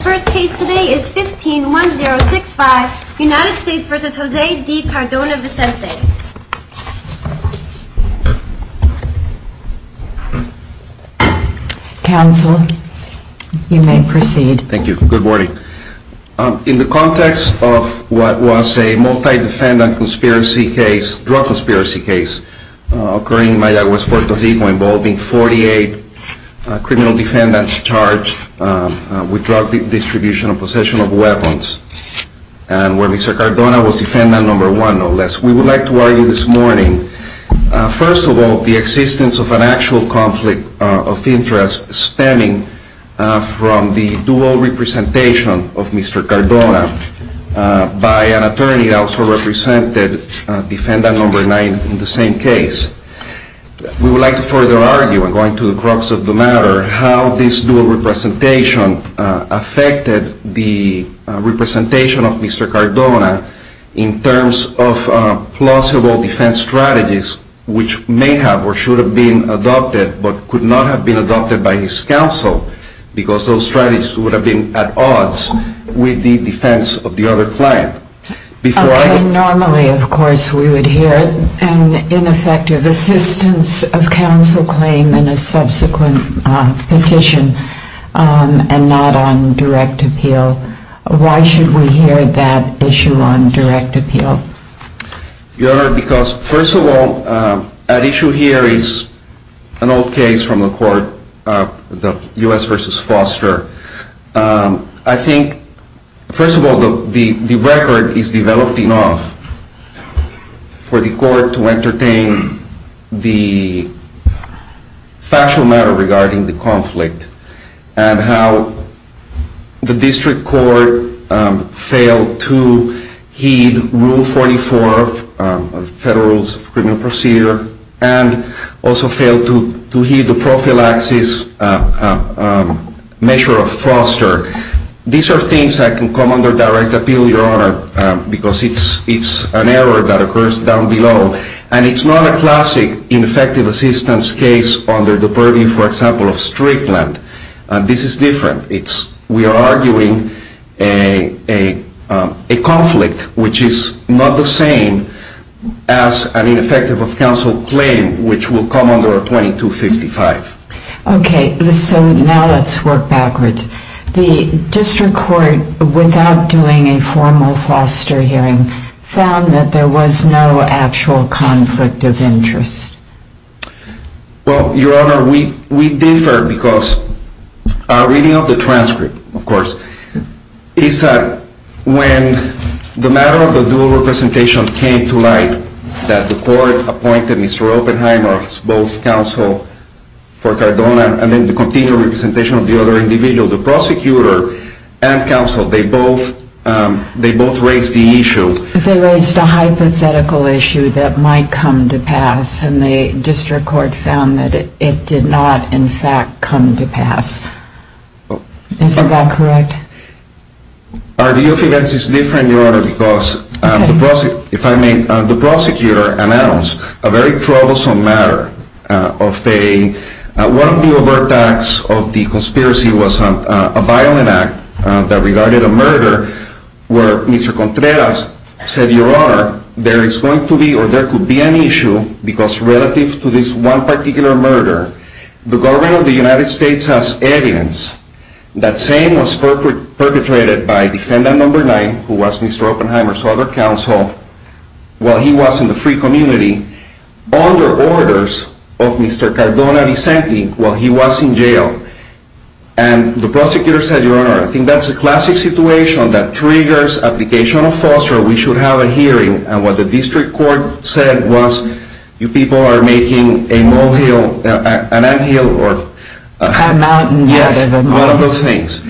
The first case today is 15-1065, United States v. Jose D. Cardona-Vicenty. Counsel, you may proceed. Thank you. Good morning. In the context of what was a multi-defendant drug conspiracy case occurring in Mayagüez, Puerto Rico involving 48 criminal defendants charged with drug distribution and possession of weapons, and where Mr. Cardona was defendant number one, no less. We would like to argue this morning, first of all, the existence of an actual conflict of interest stemming from the dual representation of Mr. Cardona by an attorney that also represented defendant number nine in the same case. We would like to further argue, going to the crux of the matter, how this dual representation affected the representation of Mr. Cardona in terms of plausible defense strategies which may have or should have been adopted but could not have been adopted by his counsel because those strategies would have been at odds with the defense of the other client. Normally, of course, we would hear an ineffective assistance of counsel claim in a subsequent petition and not on direct appeal. Why should we hear that issue on direct appeal? Your Honor, because, first of all, at issue here is an old case from the court, the U.S. v. Foster. I think, first of all, the record is developed enough for the court to entertain the factual matter regarding the conflict and how the district court failed to heed Rule 44 of the Federal Rules of Criminal Procedure and also failed to heed the prophylaxis measure of Foster. These are things that can come under direct appeal, Your Honor, because it's an error that occurs down below. And it's not a classic ineffective assistance case under the purview, for example, of Strickland. This is different. We are arguing a conflict which is not the same as an ineffective of counsel claim, which will come under 2255. Okay, so now let's work backwards. The district court, without doing a formal Foster hearing, Well, Your Honor, we differ because our reading of the transcript, of course, is that when the matter of the dual representation came to light, that the court appointed Mr. Oppenheimer as both counsel for Cardona and then the continued representation of the other individual, the prosecutor and counsel, they both raised the issue. They raised a hypothetical issue that might come to pass, and the district court found that it did not, in fact, come to pass. Isn't that correct? Our view of events is different, Your Honor, because if I may, the prosecutor announced a very troublesome matter. One of the overt acts of the conspiracy was a violent act that regarded a murder where Mr. Contreras said, Your Honor, there is going to be or there could be an issue because relative to this one particular murder, the government of the United States has evidence that same was perpetrated by defendant number nine, who was Mr. Oppenheimer's other counsel, while he was in the free community, under orders of Mr. Cardona Vicente while he was in jail. And the prosecutor said, Your Honor, I think that's a classic situation that triggers application of foster, we should have a hearing, and what the district court said was, you people are making a molehill, an anthill, or... A mountain out of a mountain. Yes, one of those things.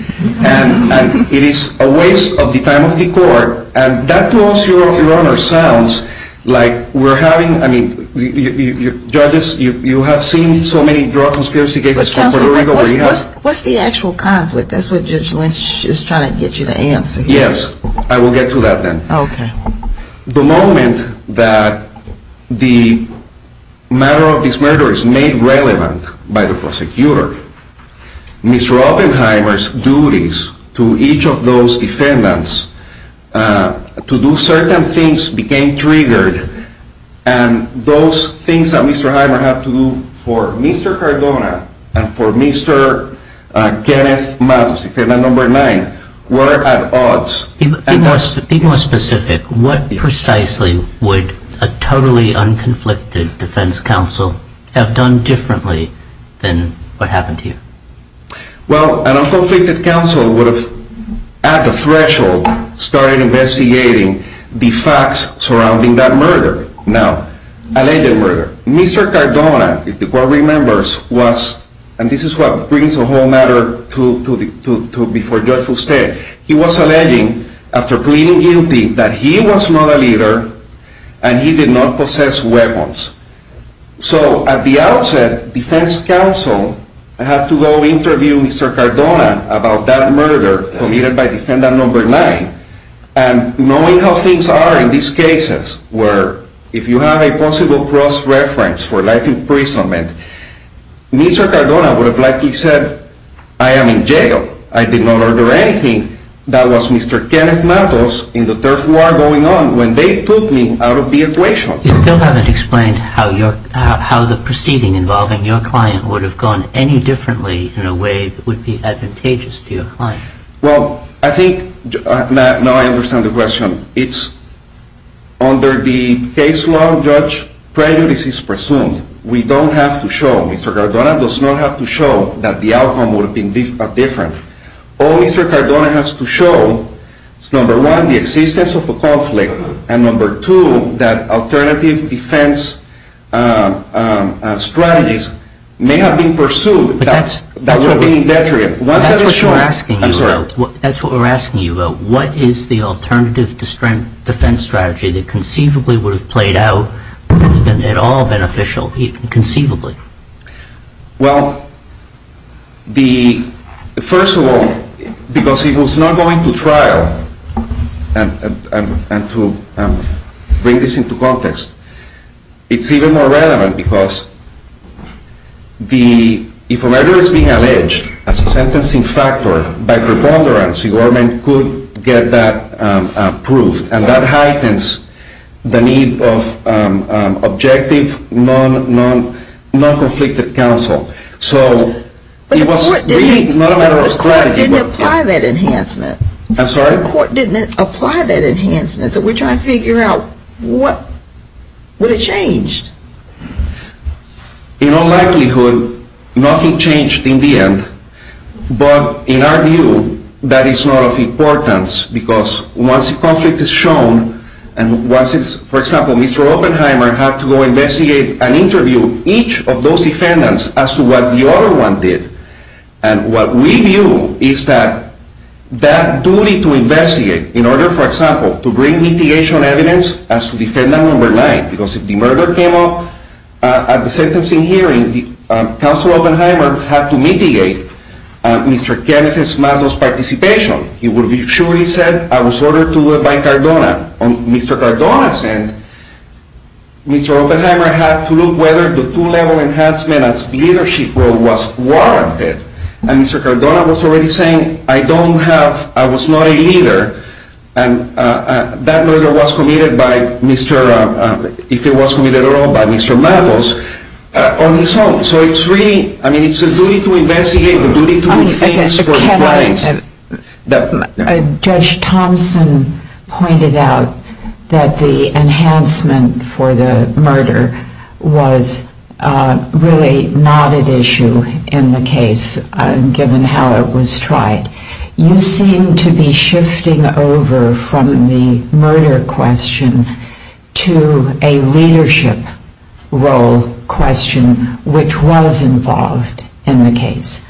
And it is a waste of the time of the court, and that to us, Your Honor, sounds like we're having, I mean, judges, you have seen so many drug conspiracy cases from Puerto Rico, what's the actual conflict, that's what Judge Lynch is trying to get you to answer here. Yes, I will get to that then. Okay. The moment that the matter of this murder is made relevant by the prosecutor, Mr. Oppenheimer's duties to each of those defendants to do certain things became triggered, and those things that Mr. Oppenheimer had to do for Mr. Cardona and for Mr. Kenneth Matos, defendant number nine, were at odds. Be more specific. What precisely would a totally unconflicted defense counsel have done differently than what happened here? Well, an unconflicted counsel would have, at the threshold, started investigating the facts surrounding that murder. Now, alleged murder. Mr. Cardona, if the court remembers, was, and this is what brings the whole matter to before Judge Fusted, he was alleging, after pleading guilty, that he was not a leader and he did not possess weapons. So, at the outset, defense counsel had to go interview Mr. Cardona about that murder committed by defendant number nine, and knowing how things are in these cases, where if you have a possible cross-reference for life imprisonment, Mr. Cardona would have likely said, I am in jail, I did not order anything, that was Mr. Kenneth Matos, in the turf war going on, when they took me out of the equation. You still haven't explained how the proceeding involving your client would have gone any differently in a way that would be advantageous to your client. Well, I think, now I understand the question. It's, under the case law, Judge, prejudice is presumed. We don't have to show, Mr. Cardona does not have to show, that the outcome would have been different. All Mr. Cardona has to show is, number one, the existence of a conflict, and number two, that alternative defense strategies may have been pursued that would have been indetricate. That's what we're asking you about. What is the alternative defense strategy that conceivably would have played out at all beneficial, even conceivably? Well, first of all, because it was not going to trial, and to bring this into context, it's even more relevant, because if a murder is being alleged as a sentencing factor, by preponderance, the government could get that proved, and that heightens the need of objective, non-conflicted counsel. So it was really not a matter of strategy. But the court didn't apply that enhancement. I'm sorry? The court didn't apply that enhancement. So we're trying to figure out what would have changed. In all likelihood, nothing changed in the end. But in our view, that is not of importance, because once a conflict is shown, and once it's, for example, Mr. Oppenheimer had to go investigate and interview each of those defendants as to what the other one did, and what we view is that that duty to investigate, in order, for example, to bring mitigation evidence as to defendant number nine, because if the murder came up at the sentencing hearing, the counsel Oppenheimer had to mitigate Mr. Kenneth Matos' participation. He would be sure he said, I was ordered to do it by Cardona. On Mr. Cardona's end, Mr. Oppenheimer had to look whether the two-level enhancement as leadership role was warranted. And Mr. Cardona was already saying, I don't have, I was not a leader, and that murder was committed by Mr., if it was committed at all, by Mr. Matos. So it's really, I mean, it's a duty to investigate, a duty to do things for clients. Judge Thompson pointed out that the enhancement for the murder was really not an issue in the case, given how it was tried. You seem to be shifting over from the murder question to a leadership role question, which was involved in the case.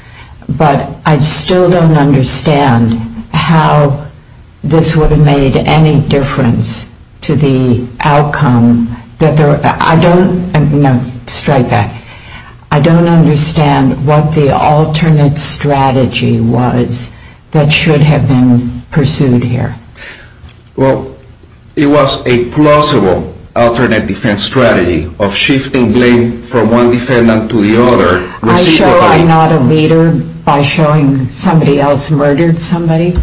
But I still don't understand how this would have made any difference to the outcome. I don't, no, strike back. I don't understand what the alternate strategy was that should have been pursued here. Well, it was a plausible alternate defense strategy of shifting blame from one defendant to the other. I show I'm not a leader by showing somebody else murdered somebody?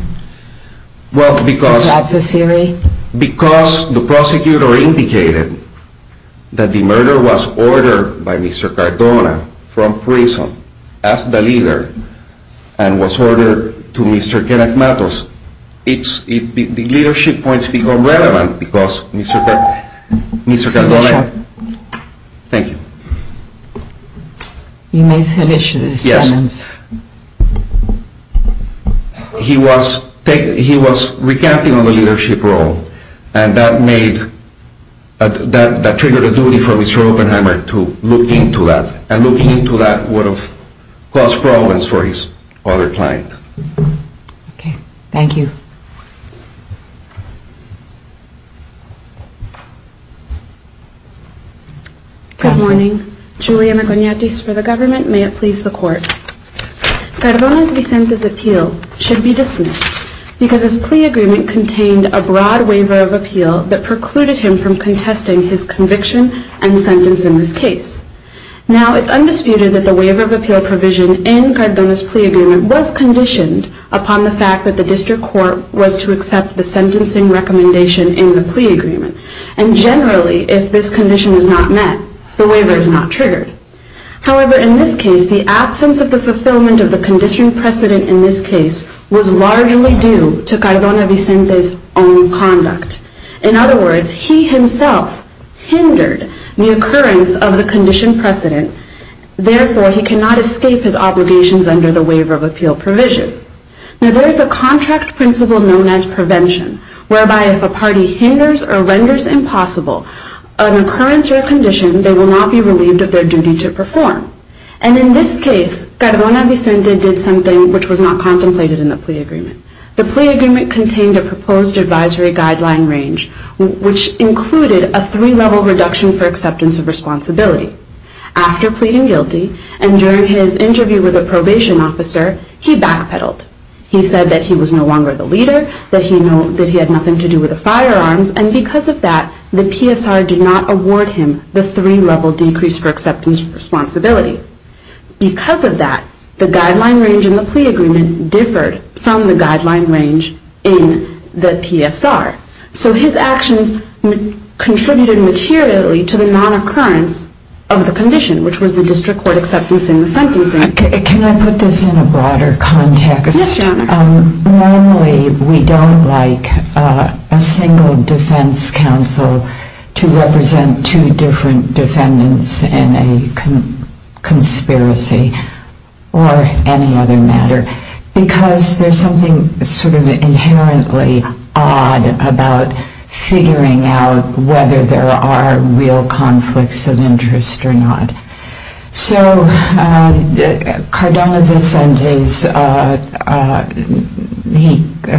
Is that the theory? Because the prosecutor indicated that the murder was ordered by Mr. Cardona from prison as the leader and was ordered to Mr. Kenneth Matos. The leadership points become relevant because Mr. Cardona, thank you. You may finish this sentence. Yes. He was recanting on the leadership role, and that made, that triggered a duty for Mr. Oppenheimer to look into that, and looking into that would have caused problems for his other client. Okay. Thank you. Good morning. Juliana Cognatis for the government. May it please the court. Cardona's Vicente's appeal should be dismissed because his plea agreement contained a broad waiver of appeal that precluded him from contesting his conviction and sentence in this case. Now, it's undisputed that the waiver of appeal provision in Cardona's plea agreement was conditioned upon the fact that the district court was to accept the sentencing recommendation in the plea agreement, and generally, if this condition is not met, the waiver is not triggered. However, in this case, the absence of the fulfillment of the condition precedent in this case was largely due to Cardona Vicente's own conduct. In other words, he himself hindered the occurrence of the condition precedent. Therefore, he cannot escape his obligations under the waiver of appeal provision. Now, there is a contract principle known as prevention, whereby if a party hinders or renders impossible an occurrence or a condition, they will not be relieved of their duty to perform. And in this case, Cardona Vicente did something which was not contemplated in the plea agreement. The plea agreement contained a proposed advisory guideline range, which included a three-level reduction for acceptance of responsibility. After pleading guilty and during his interview with a probation officer, he backpedaled. He said that he was no longer the leader, that he had nothing to do with the firearms, and because of that, the PSR did not award him the three-level decrease for acceptance of responsibility. Because of that, the guideline range in the plea agreement differed from the guideline range in the PSR. So his actions contributed materially to the non-occurrence of the condition, which was the district court acceptance in the sentencing. Can I put this in a broader context? Yes, Your Honor. Normally, we don't like a single defense counsel to represent two different defendants in a conspiracy, or any other matter, because there's something sort of inherently odd about figuring out whether there are real conflicts of interest or not. So Cardona Vicente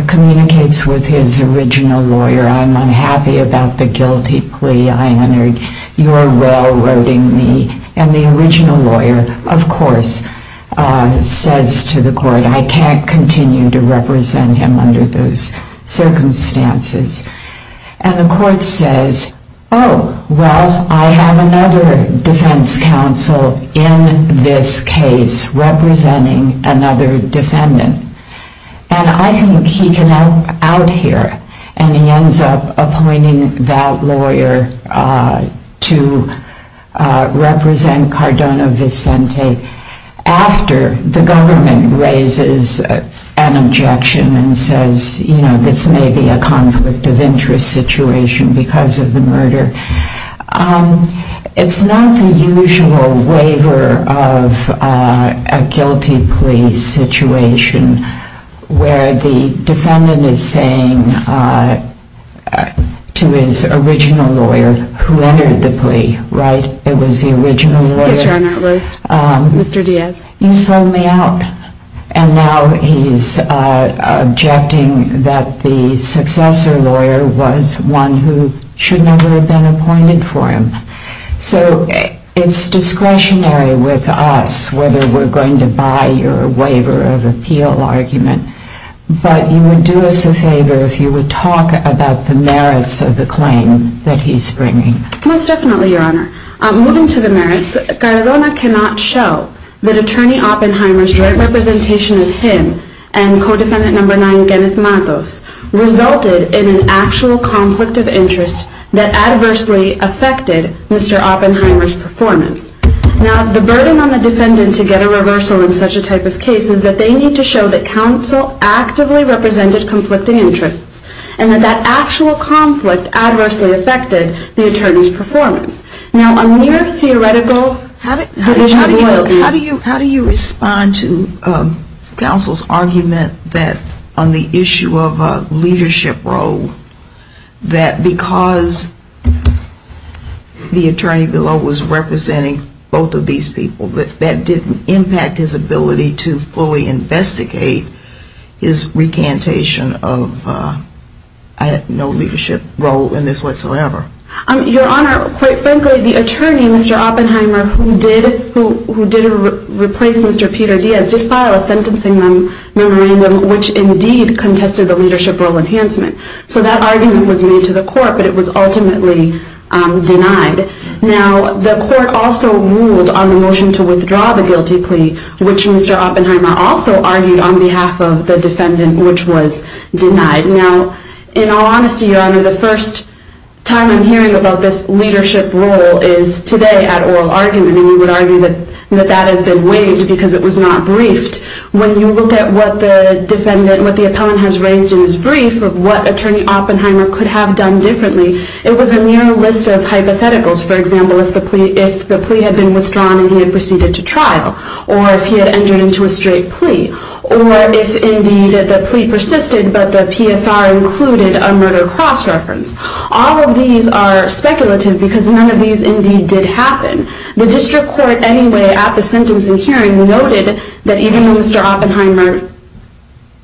communicates with his original lawyer, I'm unhappy about the guilty plea I entered, you are well-roading me. And the original lawyer, of course, says to the court, I can't continue to represent him under those circumstances. And the court says, oh, well, I have another defense counsel in this case representing another defendant. And I think he can out here. And he ends up appointing that lawyer to represent Cardona Vicente after the government raises an objection and says, this may be a conflict of interest situation because of the murder. It's not the usual waiver of a guilty plea situation, where the defendant is saying to his original lawyer who entered the plea, it was the original lawyer, you sold me out. And now he's objecting that the successor lawyer was one who should never have been appointed for him. So it's discretionary with us whether we're going to buy your waiver of appeal argument. But you would do us a favor if you would talk about the merits of the claim that he's bringing. Most definitely, Your Honor. Moving to the merits, Cardona cannot show that Attorney Oppenheimer's direct representation of him and co-defendant number 9, Genneth Matos, resulted in an actual conflict of interest that adversely affected Mr. Oppenheimer's performance. Now, the burden on the defendant to get a reversal in such a type of case is that they need to show that counsel actively represented conflicting interests and that that actual conflict adversely affected the attorney's performance. Now, a mere theoretical division of loyalties... How do you respond to counsel's argument that on the issue of a leadership role, that because the attorney below was representing both of these people, that didn't impact his ability to fully investigate his recantation of no leadership role in this whatsoever? Your Honor, quite frankly, the attorney, Mr. Oppenheimer, who did replace Mr. Peter Diaz, did file a sentencing memorandum which indeed contested the leadership role enhancement. So that argument was made to the court, but it was ultimately denied. Now, the court also ruled on the motion to withdraw the guilty plea, which Mr. Oppenheimer also argued on behalf of the defendant, which was denied. Now, in all honesty, Your Honor, the first time I'm hearing about this leadership role is today at oral argument, and we would argue that that has been waived because it was not briefed. When you look at what the defendant, what the appellant has raised in his brief of what Attorney Oppenheimer could have done differently, it was a mere list of hypotheticals. For example, if the plea had been withdrawn and he had proceeded to trial, or if he had entered into a straight plea, or if indeed the plea persisted, but the PSR included a murder cross-reference. All of these are speculative because none of these indeed did happen. The district court anyway, at the sentencing hearing, noted that even though Mr. Oppenheimer,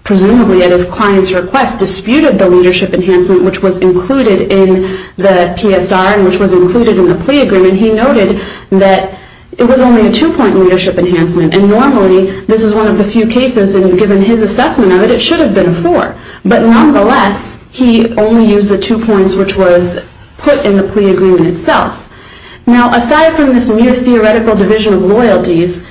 presumably at his client's request, disputed the leadership enhancement which was included in the PSR and which was included in the plea agreement, he noted that it was only a two-point leadership enhancement. And normally, this is one of the few cases, and given his assessment of it, it should have been a four. But nonetheless, he only used the two points which was put in the plea agreement itself. Now, aside from this mere theoretical division of loyalties,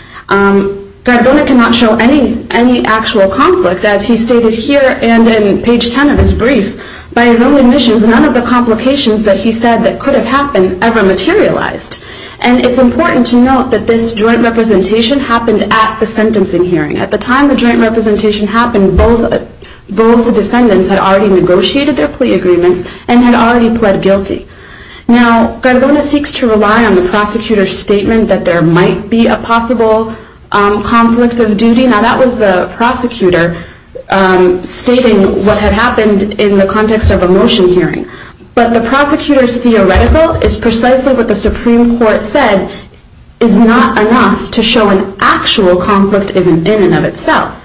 Gardona cannot show any actual conflict. As he stated here and in page 10 of his brief, by his own admissions, none of the complications that he said that could have happened ever materialized. And it's important to note that this joint representation happened at the sentencing hearing. At the time the joint representation happened, both the defendants had already negotiated their plea agreements and had already pled guilty. Now, Gardona seeks to rely on the prosecutor's statement that there might be a possible conflict of duty. Now, that was the prosecutor stating what had happened in the context of a motion hearing. But the prosecutor's theoretical is precisely what the Supreme Court said is not enough to show an actual conflict in and of itself.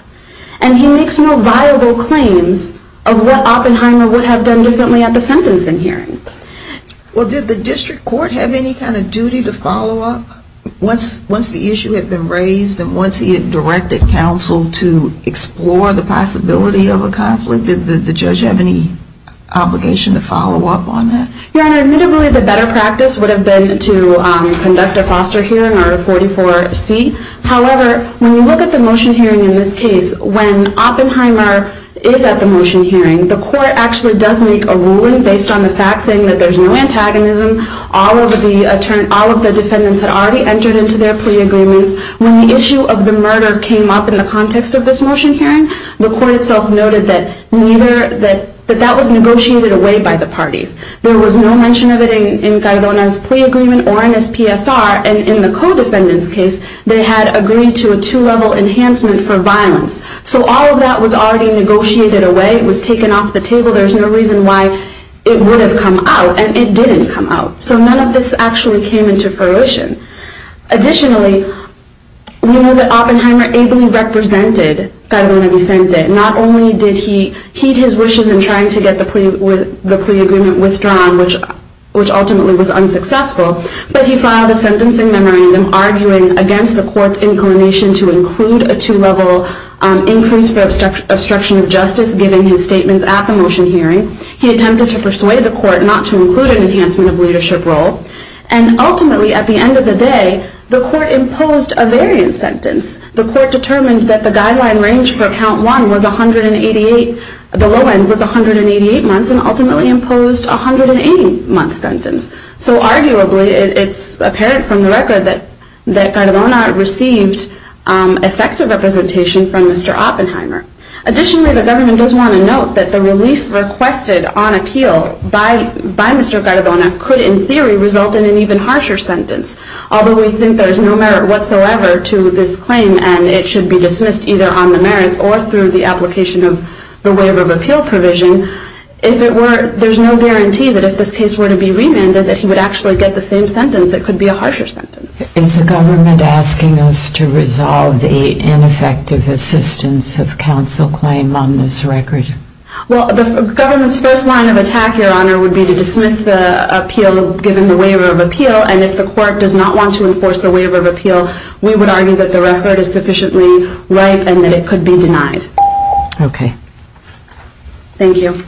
And he makes no viable claims of what Oppenheimer would have done differently at the sentencing hearing. Well, did the district court have any kind of duty to follow up once the issue had been raised and once he had directed counsel to explore the possibility of a conflict? Did the judge have any obligation to follow up on that? Your Honor, admittedly, the better practice would have been to conduct a foster hearing or a 44C. However, when you look at the motion hearing in this case, when Oppenheimer is at the motion hearing, the court actually does make a ruling based on the fact saying that there's no antagonism. All of the defendants had already entered into their plea agreements. When the issue of the murder came up in the context of this motion hearing, the court itself noted that that was negotiated away by the parties. There was no mention of it in Gardona's plea agreement or in his PSR. And in the co-defendant's case, they had agreed to a two-level enhancement for violence. So all of that was already negotiated away. It was taken off the table. There's no reason why it would have come out. And it didn't come out. So none of this actually came into fruition. Additionally, we know that Oppenheimer ably represented Catalina Vicente. Not only did he heed his wishes in trying to get the plea agreement withdrawn, which ultimately was unsuccessful, but he filed a sentencing memorandum arguing against the court's inclination to include a two-level increase for obstruction of justice, given his statements at the motion hearing. He attempted to persuade the court not to include an enhancement of leadership role. And ultimately, at the end of the day, the court imposed a variance sentence. The court determined that the guideline range for count one was 188. The low end was 188 months and ultimately imposed a 180-month sentence. So arguably, it's apparent from the record that Garibona received effective representation from Mr. Oppenheimer. Additionally, the government does want to note that the relief requested on appeal by Mr. Garibona could in theory result in an even harsher sentence. Although we think there is no merit whatsoever to this claim and it should be dismissed either on the merits or through the application of the waiver of appeal provision, there's no guarantee that if this case were to be remanded that he would actually get the same sentence. It could be a harsher sentence. Is the government asking us to resolve the ineffective assistance of counsel claim on this record? Well, the government's first line of attack, Your Honor, would be to dismiss the appeal given the waiver of appeal. And if the court does not want to enforce the waiver of appeal, we would argue that the record is sufficiently ripe and that it could be denied. Okay. Thank you.